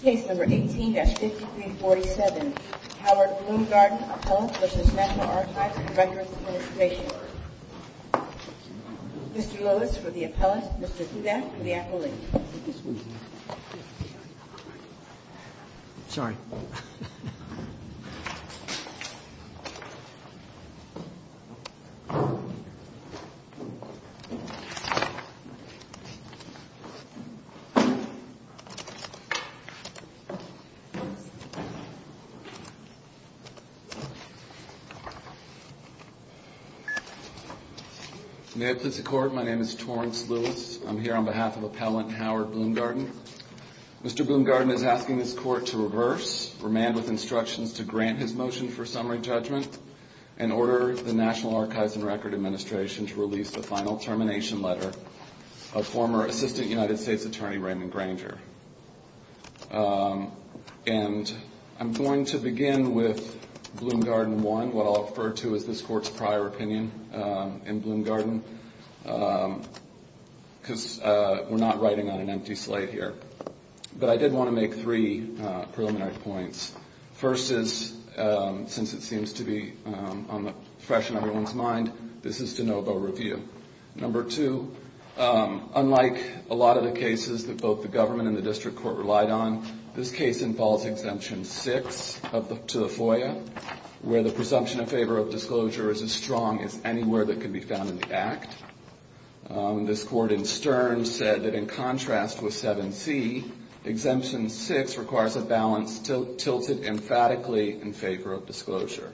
Case number 18-5347 Howard Bloomgarden, Appellant v. National Archives and Records Administration Mr. Lewis for the Appellant, Mr. Kudak for the Accolade May it please the Court, my name is Torrence Lewis. I'm here on behalf of the Appellant Howard Bloomgarden. Mr. Bloomgarden is asking this Court to reverse, remand with instructions to grant his motion for summary judgment, and order the National Archives and Records Administration to release the final termination letter of former Assistant United States Attorney Raymond Granger. And I'm going to begin with Bloomgarden 1, what I'll refer to as this case. I'm not going to go in on an empty slate here. But I did want to make three preliminary points. First is, since it seems to be on the fresh in everyone's mind, this is de novo review. Number two, unlike a lot of the cases that both the government and the district court relied on, this case involves Exemption 6 up to the FOIA, where the presumption of favor of disclosure is as strong as anywhere that can be found in the Act. This Court in contrast with 7C, Exemption 6 requires a balance tilted emphatically in favor of disclosure.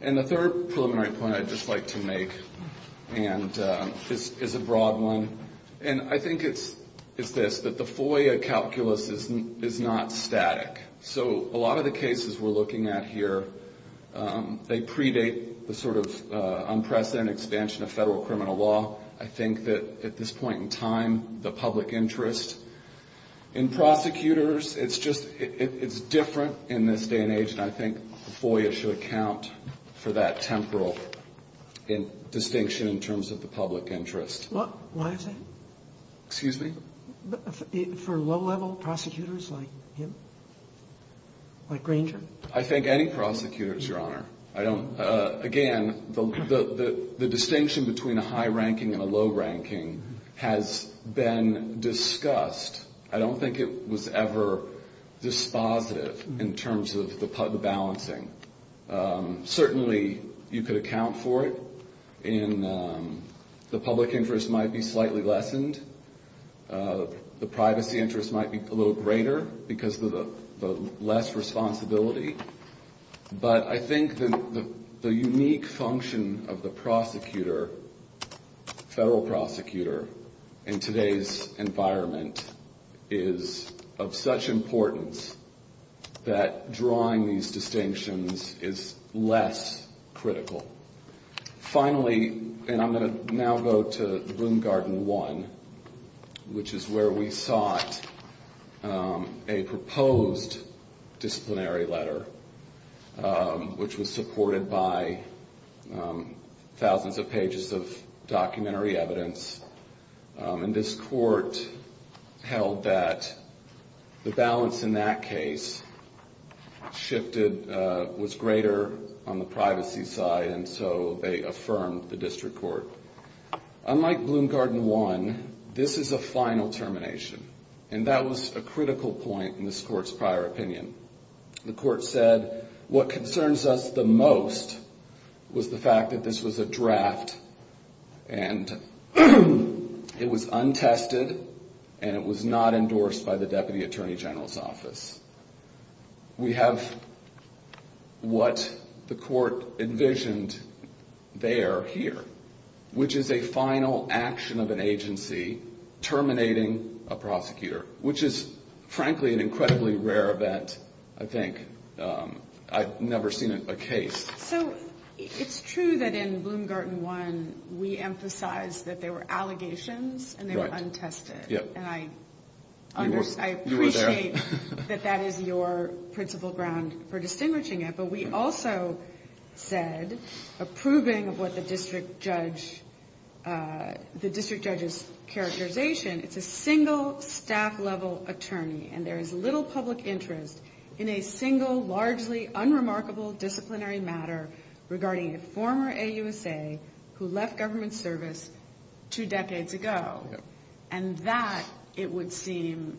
And the third preliminary point I'd just like to make is a broad one. And I think it's this, that the FOIA calculus is not static. So a lot of the cases we're looking at here, they predate the sort of unprecedented expansion of federal criminal law. I think that at this point in time, the public interest in prosecutors, it's just, it's different in this day and age. And I think FOIA should account for that temporal distinction in terms of the public interest. Why is that? Excuse me? For low-level prosecutors like him? Like Granger? I think any prosecutor, Your Honor. I don't, again, the distinction between a high-ranking and a low-ranking has been discussed. I don't think it was ever dispositive in terms of the balancing. Certainly, you could account for it in the public interest might be slightly lessened. The privacy interest might be a little greater because of the less responsibility. But I think the unique function of the prosecutor, federal prosecutor, in today's environment is of such importance that drawing these distinctions is less critical. Finally, and I'm going to now go to the Bloom Garden 1, which is where we sought a proposed disciplinary letter, which was supported by thousands of pages of documentary evidence. And this court held that the balance in that case shifted, was greater on the privacy side, and so they affirmed the district court. Unlike Bloom Garden 1, this is a final termination. And that was a critical point in this court's prior opinion. The court said what concerns us the most was the fact that this was a draft and it was untested and it was not endorsed by the Deputy Attorney General's Office. We have what the court envisioned there, here, which is a final action of an agency terminating a prosecutor, which is, frankly, an incredibly rare event, I think. I've never seen a case. So it's true that in Bloom Garden 1, we emphasized that there were allegations and they were untested. And I appreciate that that is your principal ground for distinguishing it, but we also said approving of what the district judge's characterization, it's a single staff-level attorney and there is little public interest in a single, largely unremarkable disciplinary matter regarding a former AUSA who left government service two decades ago. And that, it would seem,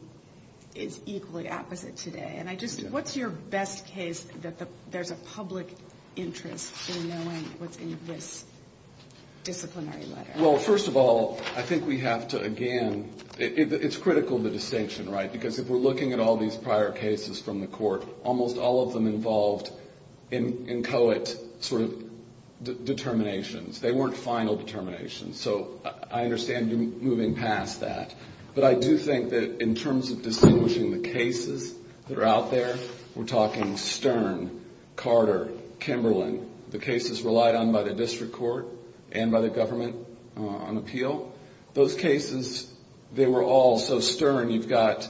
is equally apposite today. And I just, what's your best case that there's a public interest in knowing what's in this disciplinary letter? Well, first of all, I think we have to, again, it's critical, the distinction, right? Because if we're looking at all these prior cases from the court, almost all of them involved inchoate sort of determinations. They weren't final determinations. So I understand you're moving past that. But I do think that in terms of distinguishing the cases that are out there, we're talking Stern, Carter, Kimberlin, the cases relied on by the district court and by the government on appeal. Those cases, they were all so Stern, you've got,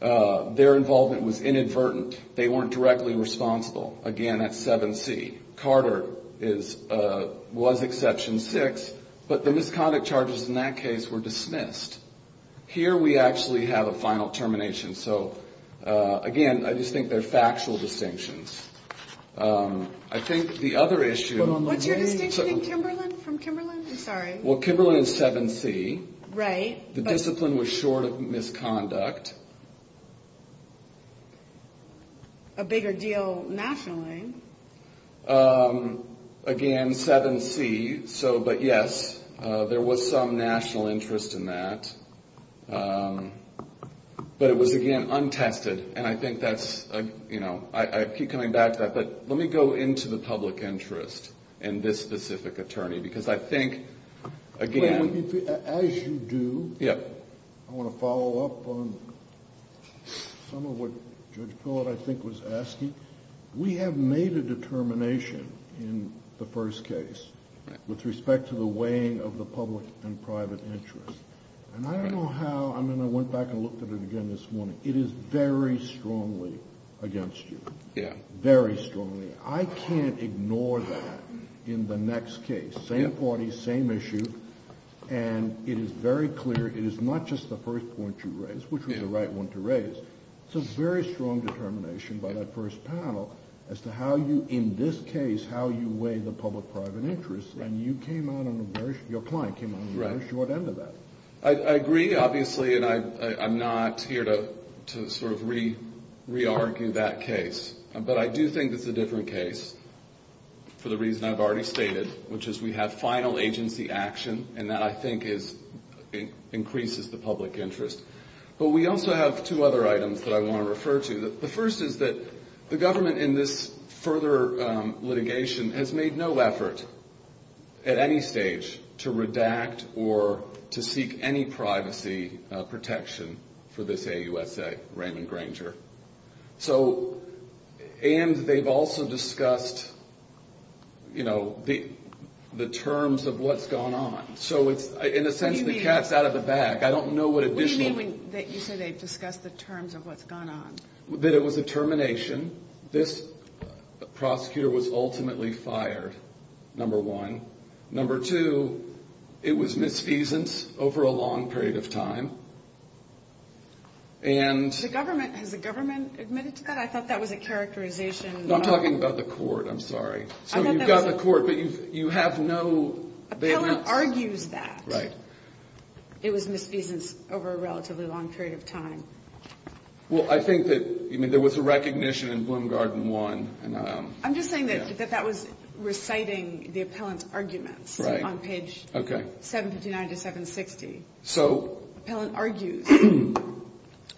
their involvement was inadvertent. They weren't directly responsible. Again, that's 7C. Carter was exception six, but the misconduct charges in that case were dismissed. Here we actually have a final termination. So, again, I just think they're factual distinctions. I think the other issue... What's your distinction in Kimberlin, from Kimberlin? I'm sorry. Well, Kimberlin is 7C. Right. The discipline was short of misconduct. A bigger deal nationally. Again, 7C. So, but yes, there was some national interest in that. But it was, again, untested. And I think that's, you know, I keep coming back to that. But let me go into the public interest in this specific attorney. Because I think, again... As you do, I want to follow up on some of what Judge Pillard, I think, was asking. We have made a determination in the first case with respect to the weighing of the public and private interest. And I don't know how... I mean, I went back and looked at it again this morning. It is very strongly against you. Yeah. Very strongly. I can't ignore that in the next case. Same parties, same issue. And it is very clear. It is not just the first point you raised, which was the right one to raise. It's a very strong determination by that first panel as to how you, in this case, how you weigh the public-private interest. And you came out on a very... Your client came out on a very short end of that. I agree, obviously. And I'm not here to sort of re-argue that case. But I do think it's a different case for the reason I've already stated, which is we have final agency action. And that, I think, increases the public interest. But we also have two other items that I want to refer to. The first is that the government, in this further litigation, has made no effort, at any stage, to redact or to seek any privacy protection for this AUSA, Raymond Granger. So... And they've also discussed, you know, the terms of what's gone on. So it's... In a sense, the cat's out of the bag. I don't know what additional... What do you mean when you say they've discussed the terms of what's gone on? That it was a termination. This prosecutor was ultimately fired, number one. Number two, it was misfeasance over a long period of time. And... The government, has the government admitted to that? I thought that was a characterization... No, I'm talking about the court, I'm sorry. So you've got the court, but you have no... Appellant argues that. Right. It was misfeasance over a relatively long period of time. Well, I think that... I mean, there was a recognition in Bloom Garden 1, and... I'm just saying that that was reciting the appellant's arguments. Right. On page 759 to 760. So... Appellant argues...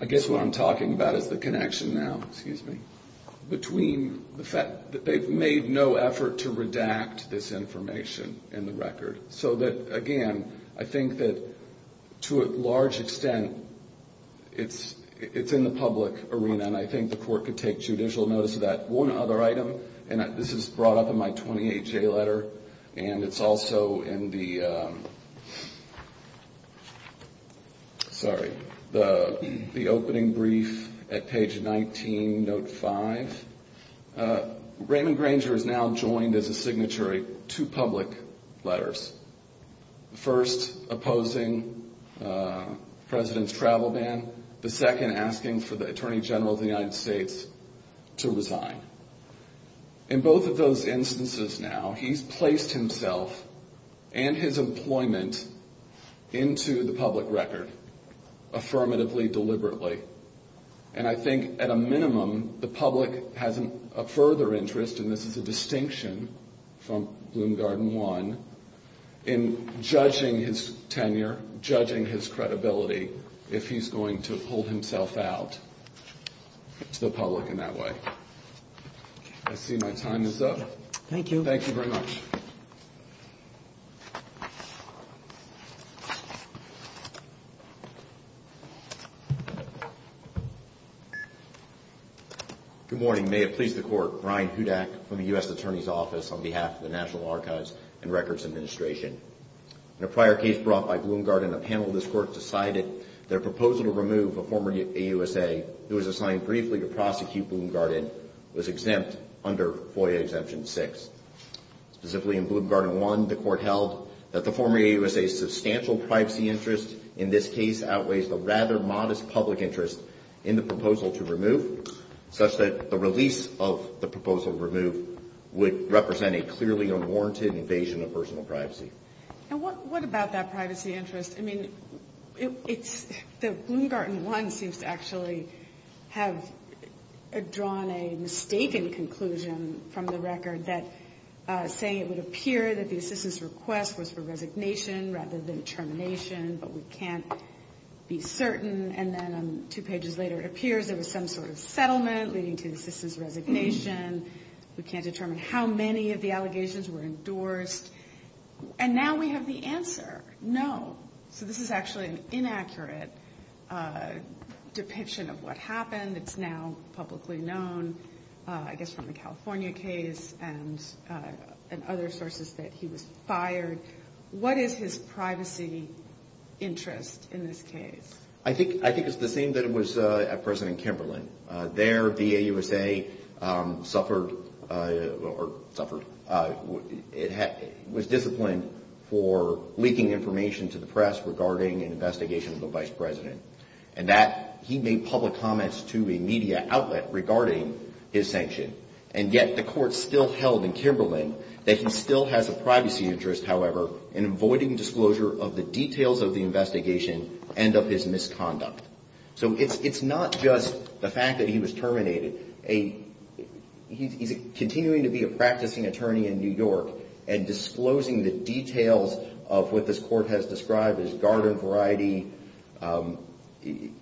I guess what I'm talking about is the connection now. Excuse me. Between the fact that they've made no effort to redact this information in the record. So that, again, I think that to a large extent, it's in the public arena, and I think the court could take judicial notice of that. One other item, and this is brought up in my 28-J letter, and it's also in the... Sorry. The opening brief at page 19, note 5. Raymond Granger is now joined as a signatory to public letters. First, opposing the president's travel ban. The second, asking for the attorney general of the United States to resign. In both of those instances now, he's placed himself and his employment into the public record, affirmatively, deliberately. And I think, at a minimum, the public has a further interest, and this is a distinction from Bloom Garden 1, in judging his tenure, judging his credibility, if he's going to pull himself out to the public in that way. I see my time is up. Thank you. Thank you very much. Thank you. Good morning. May it please the court, Brian Hudak from the U.S. Attorney's Office on behalf of the National Archives and Records Administration. In a prior case brought by Bloom Garden, a panel of this court decided that a proposal to remove a former AUSA who was assigned briefly to prosecute Bloom Garden was exempt under FOIA Exemption 6. Specifically in Bloom Garden 1, the court held that the former AUSA's substantial privacy interest in this case outweighs the rather modest public interest in the proposal to remove, such that the release of the proposal to remove would represent a clearly unwarranted invasion of personal privacy. And what about that privacy interest? I mean, it's... Bloom Garden 1 seems to actually have drawn a mistaken conclusion from the record that, saying it would appear that the assistance request was for resignation rather than termination, but we can't be certain. And then two pages later, it appears there was some sort of settlement leading to the assistance resignation. We can't determine how many of the allegations were endorsed. And now we have the answer. No. So this is actually an inaccurate depiction of what happened. It's now publicly known, I guess, from the California case and other sources that he was fired. What is his privacy interest in this case? I think it's the same that it was at President Kimberlin. There, the AUSA suffered or suffered was disciplined for leaking information to the press regarding an investigation of the Vice President. And that, he made public comments to a media outlet regarding his sanction. And yet, the court still held in Kimberlin that he still has a privacy interest, however, in avoiding disclosure of the details of the investigation and of his misconduct. So it's not just the fact that he was terminated. He's continuing to be a practicing attorney in New York and disclosing the details of what this court has described as garden variety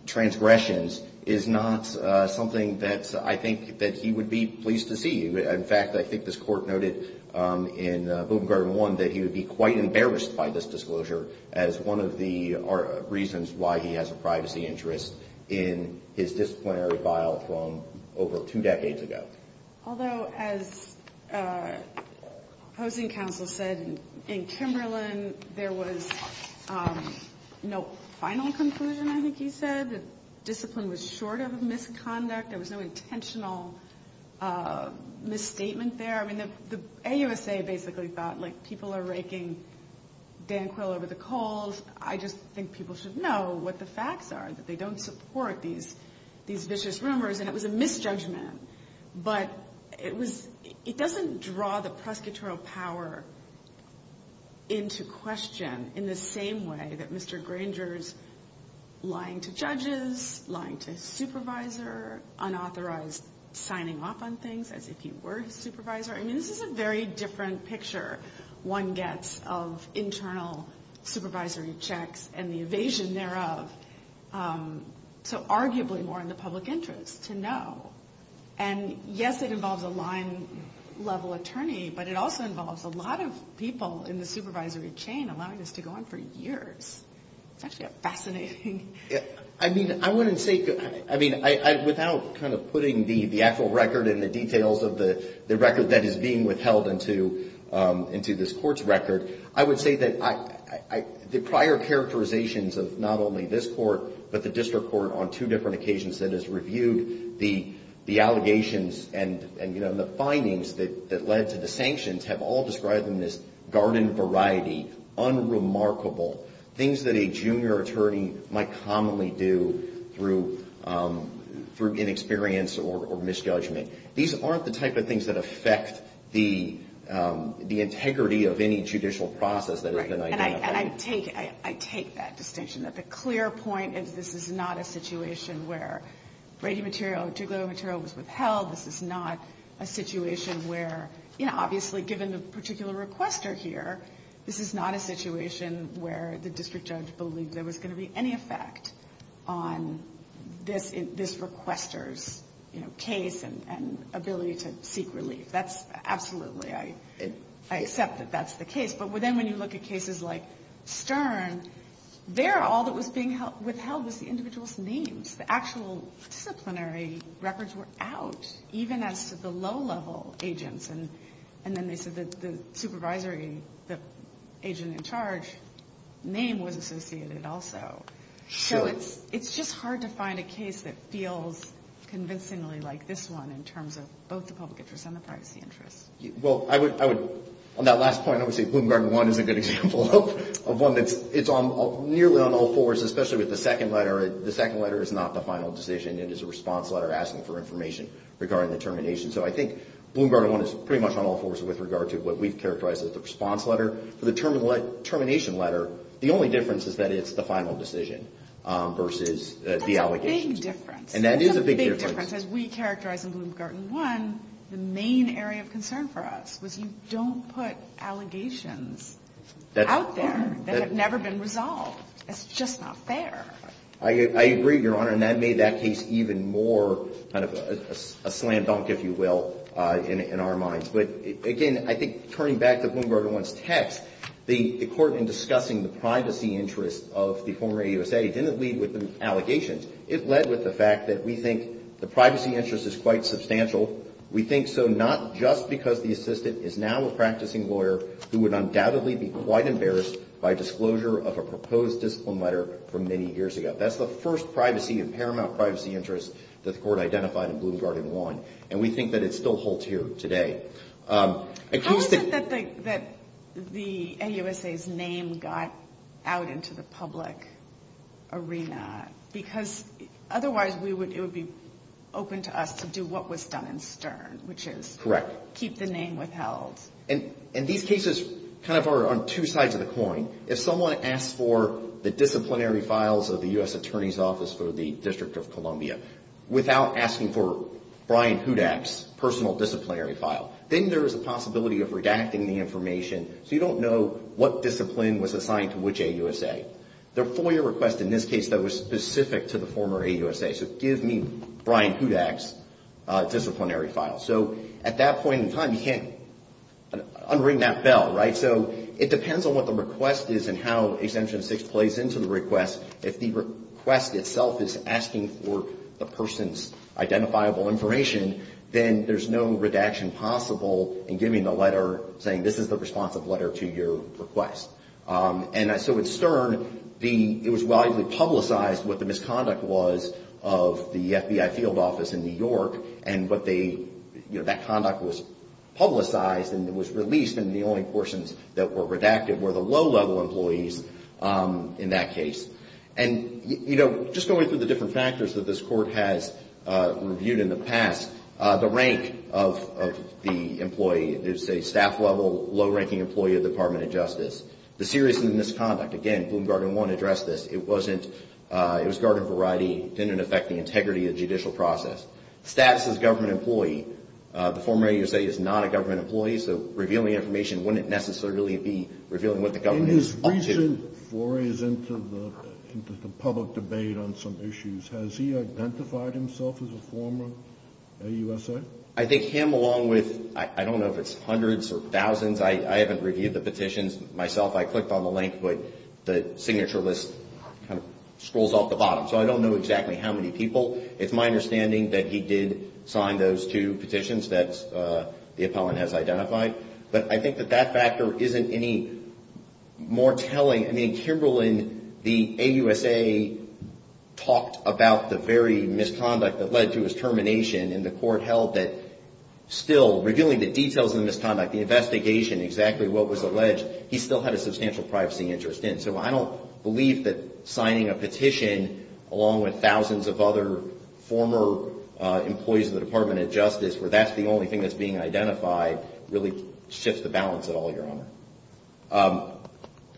transgressions is not something that I think that he would be pleased to see. In fact, I think this court noted in Book of Garden 1 that he would be quite embarrassed by this disclosure as one of the reasons why he has a privacy interest in his disciplinary file from over two decades ago. Although, as opposing counsel said, in Kimberlin, there was no final conclusion, I think he said. Discipline was short of misconduct. There was no intentional misstatement there. I mean, the AUSA basically thought, like, people are raking Dan Quill over the coals. I just think people should know what the facts are, that they don't support these vicious rumors. And it was a misjudgment. But it doesn't draw the question in the same way that Mr. Granger's lying to judges, lying to his supervisor, unauthorized signing off on things, as if he were his supervisor. I mean, this is a very different picture one gets of internal supervisory checks and the evasion thereof. So arguably more in the public interest to know. And yes, it involves a line-level attorney, but it also involves a lot of people in the supervisory chain allowing this to go on for years. It's actually a fascinating... I mean, I wouldn't say... I mean, without kind of putting the actual record and the details of the record that is being withheld into this court's record, I would say that the prior characterizations of not only this court, but the district court on two different occasions that has reviewed the allegations and the findings that led to the sanctions have all described them as garden variety, unremarkable, things that a junior attorney might commonly do through inexperience or misjudgment. These aren't the type of things that affect the integrity of any judicial process that has been identified. I take that distinction. The clear point is this is not a situation where Brady material or Duglow material was withheld. This is not a situation where... Obviously, given the particular requester here, this is not a situation where the district judge believed there was going to be any effect on this requester's case and ability to seek relief. Absolutely, I accept that that's the case, but then when you look at cases like Stern, there, all that was being withheld was the individual's names. The actual disciplinary records were out, even as the low-level agents. Then they said the agent in charge name was associated also. It's just hard to find a case that feels convincingly like this one in terms of both the public interest and the privacy interest. On that last point, I would say Bloom Garden 1 is a good example of one that's nearly on all fours, especially with the second letter. The second letter is not the final decision. It is a response letter asking for information regarding the termination. I think Bloom Garden 1 is pretty much on all fours with regard to what we've characterized as the response letter. For the termination letter, the only difference is that it's the final decision versus the allegations. That's a big difference. As we characterize in Bloom Garden 1, the main area of concern for us was you don't put allegations out there that have never been resolved. It's just not fair. I agree, Your Honor. That made that case even more kind of a slam dunk, if you will, in our minds. Again, I think turning back to Bloom Garden 1's text, the court in discussing the privacy interest of the former AUSA didn't lead with the allegations. It led with the fact that we think the privacy interest is quite substantial. We think so not just because the assistant is now a practicing lawyer who would undoubtedly be quite embarrassed by disclosure of a proposed discipline letter from many years ago. That's the first privacy and paramount privacy interest that the court identified in Bloom Garden 1. We think that it still holds here today. How is it that the AUSA's name got out into the public arena? Because otherwise it would be open to us to do what was done in Stern, which is keep the name withheld. These cases are on two sides of the coin. If someone asks for the disciplinary files of the U.S. Attorney's Office for the District of Columbia without asking for Brian Hudak's personal disciplinary file, then there is a possibility of redacting the information so you don't know what discipline was assigned to which AUSA. The FOIA request in this case that was specific to the former AUSA, so give me Brian Hudak's disciplinary file. So at that point in time, you can't unring that bell, right? It depends on what the request is and how Exemption 6 plays into the request. If the request itself is asking for the person's identifiable information, then there's no redaction possible in giving the letter, saying this is the responsive letter to your request. At Stern, it was widely publicized what the misconduct was of the FBI field office in New York and what they, that conduct was publicized and was released and the only portions that were redacted were the low-level employees in that case. And, you know, just going through the different factors that this Court has reviewed in the past, the rank of the employee is a staff-level, low-ranking employee of the Department of Justice. The seriousness of the misconduct, again, Bloom Garden 1 addressed this, it wasn't, it was garden variety, didn't affect the integrity of the judicial process. Status as a former AUSA is not a government employee, so revealing information wouldn't necessarily be revealing what the government wanted. In his recent forays into the public debate on some issues, has he identified himself as a former AUSA? I think him along with, I don't know if it's hundreds or thousands, I haven't reviewed the petitions myself, I clicked on the link, but the signature list kind of scrolls off the bottom, so I don't know exactly how many people. It's my understanding that he did sign those two petitions that the appellant has identified, but I think that that factor isn't any more telling. I mean, Kimberlin, the AUSA talked about the very misconduct that led to his termination, and the Court held that still, revealing the details of the misconduct, the investigation, exactly what was alleged, he still had a substantial privacy interest in, so I don't believe that signing a petition along with thousands of other former employees of the Department of Justice, where that's the only thing that's being identified, really shifts the balance at all, Your Honor.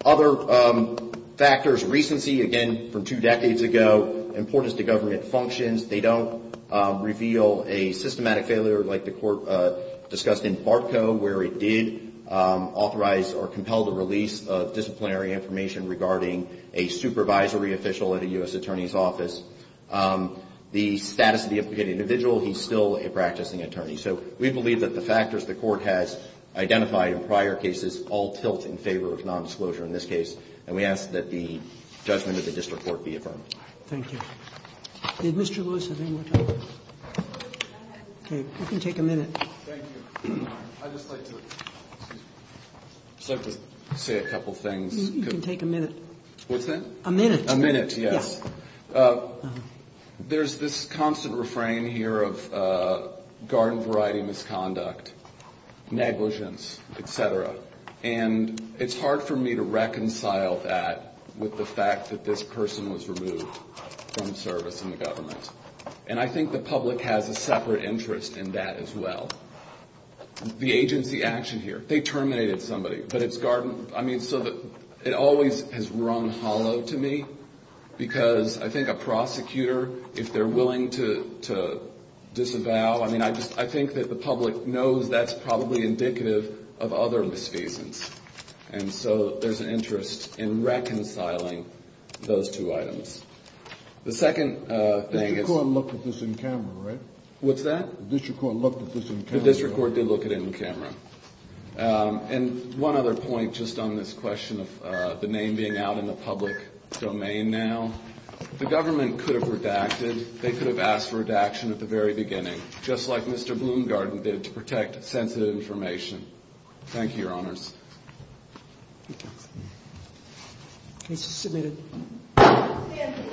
Other factors, recency, again, from two decades ago, importance to government functions, they don't reveal a systematic failure like the Court discussed in Barco, where it did authorize information regarding a supervisory official at a U.S. Attorney's office. The status of the individual, he's still a practicing attorney, so we believe that the factors the Court has identified in prior cases all tilt in favor of nondisclosure in this case, and we ask that the judgment of the District Court be affirmed. Thank you. Did Mr. Lewis have any more time? Okay, you can take a minute. Thank you. I'd just like to say a couple things. You can take a minute. What's that? A minute. A minute, yes. There's this constant refrain here of garden variety misconduct, negligence, etc., and it's hard for me to reconcile that with the fact that this person was removed from service in the government. And I think the public has a separate interest in that as well. The agency action here, they terminated somebody, but it's garden, I mean, so that it always has rung hollow to me because I think a prosecutor, if they're willing to disavow, I mean, I think that the public knows that's probably indicative of other misfeasance, and so there's an interest in reconciling those two items. The second thing is... The District Court looked at this in camera, right? What's that? The District Court looked at this in camera. The District Court did look at it in camera. And one other point just on this question of the name being out in the public domain now, the government could have redacted, they could have asked for redaction at the very beginning, just like Mr. Bloomgarden did to protect sensitive information. Thank you, Your Honors. Thank you. Case is submitted.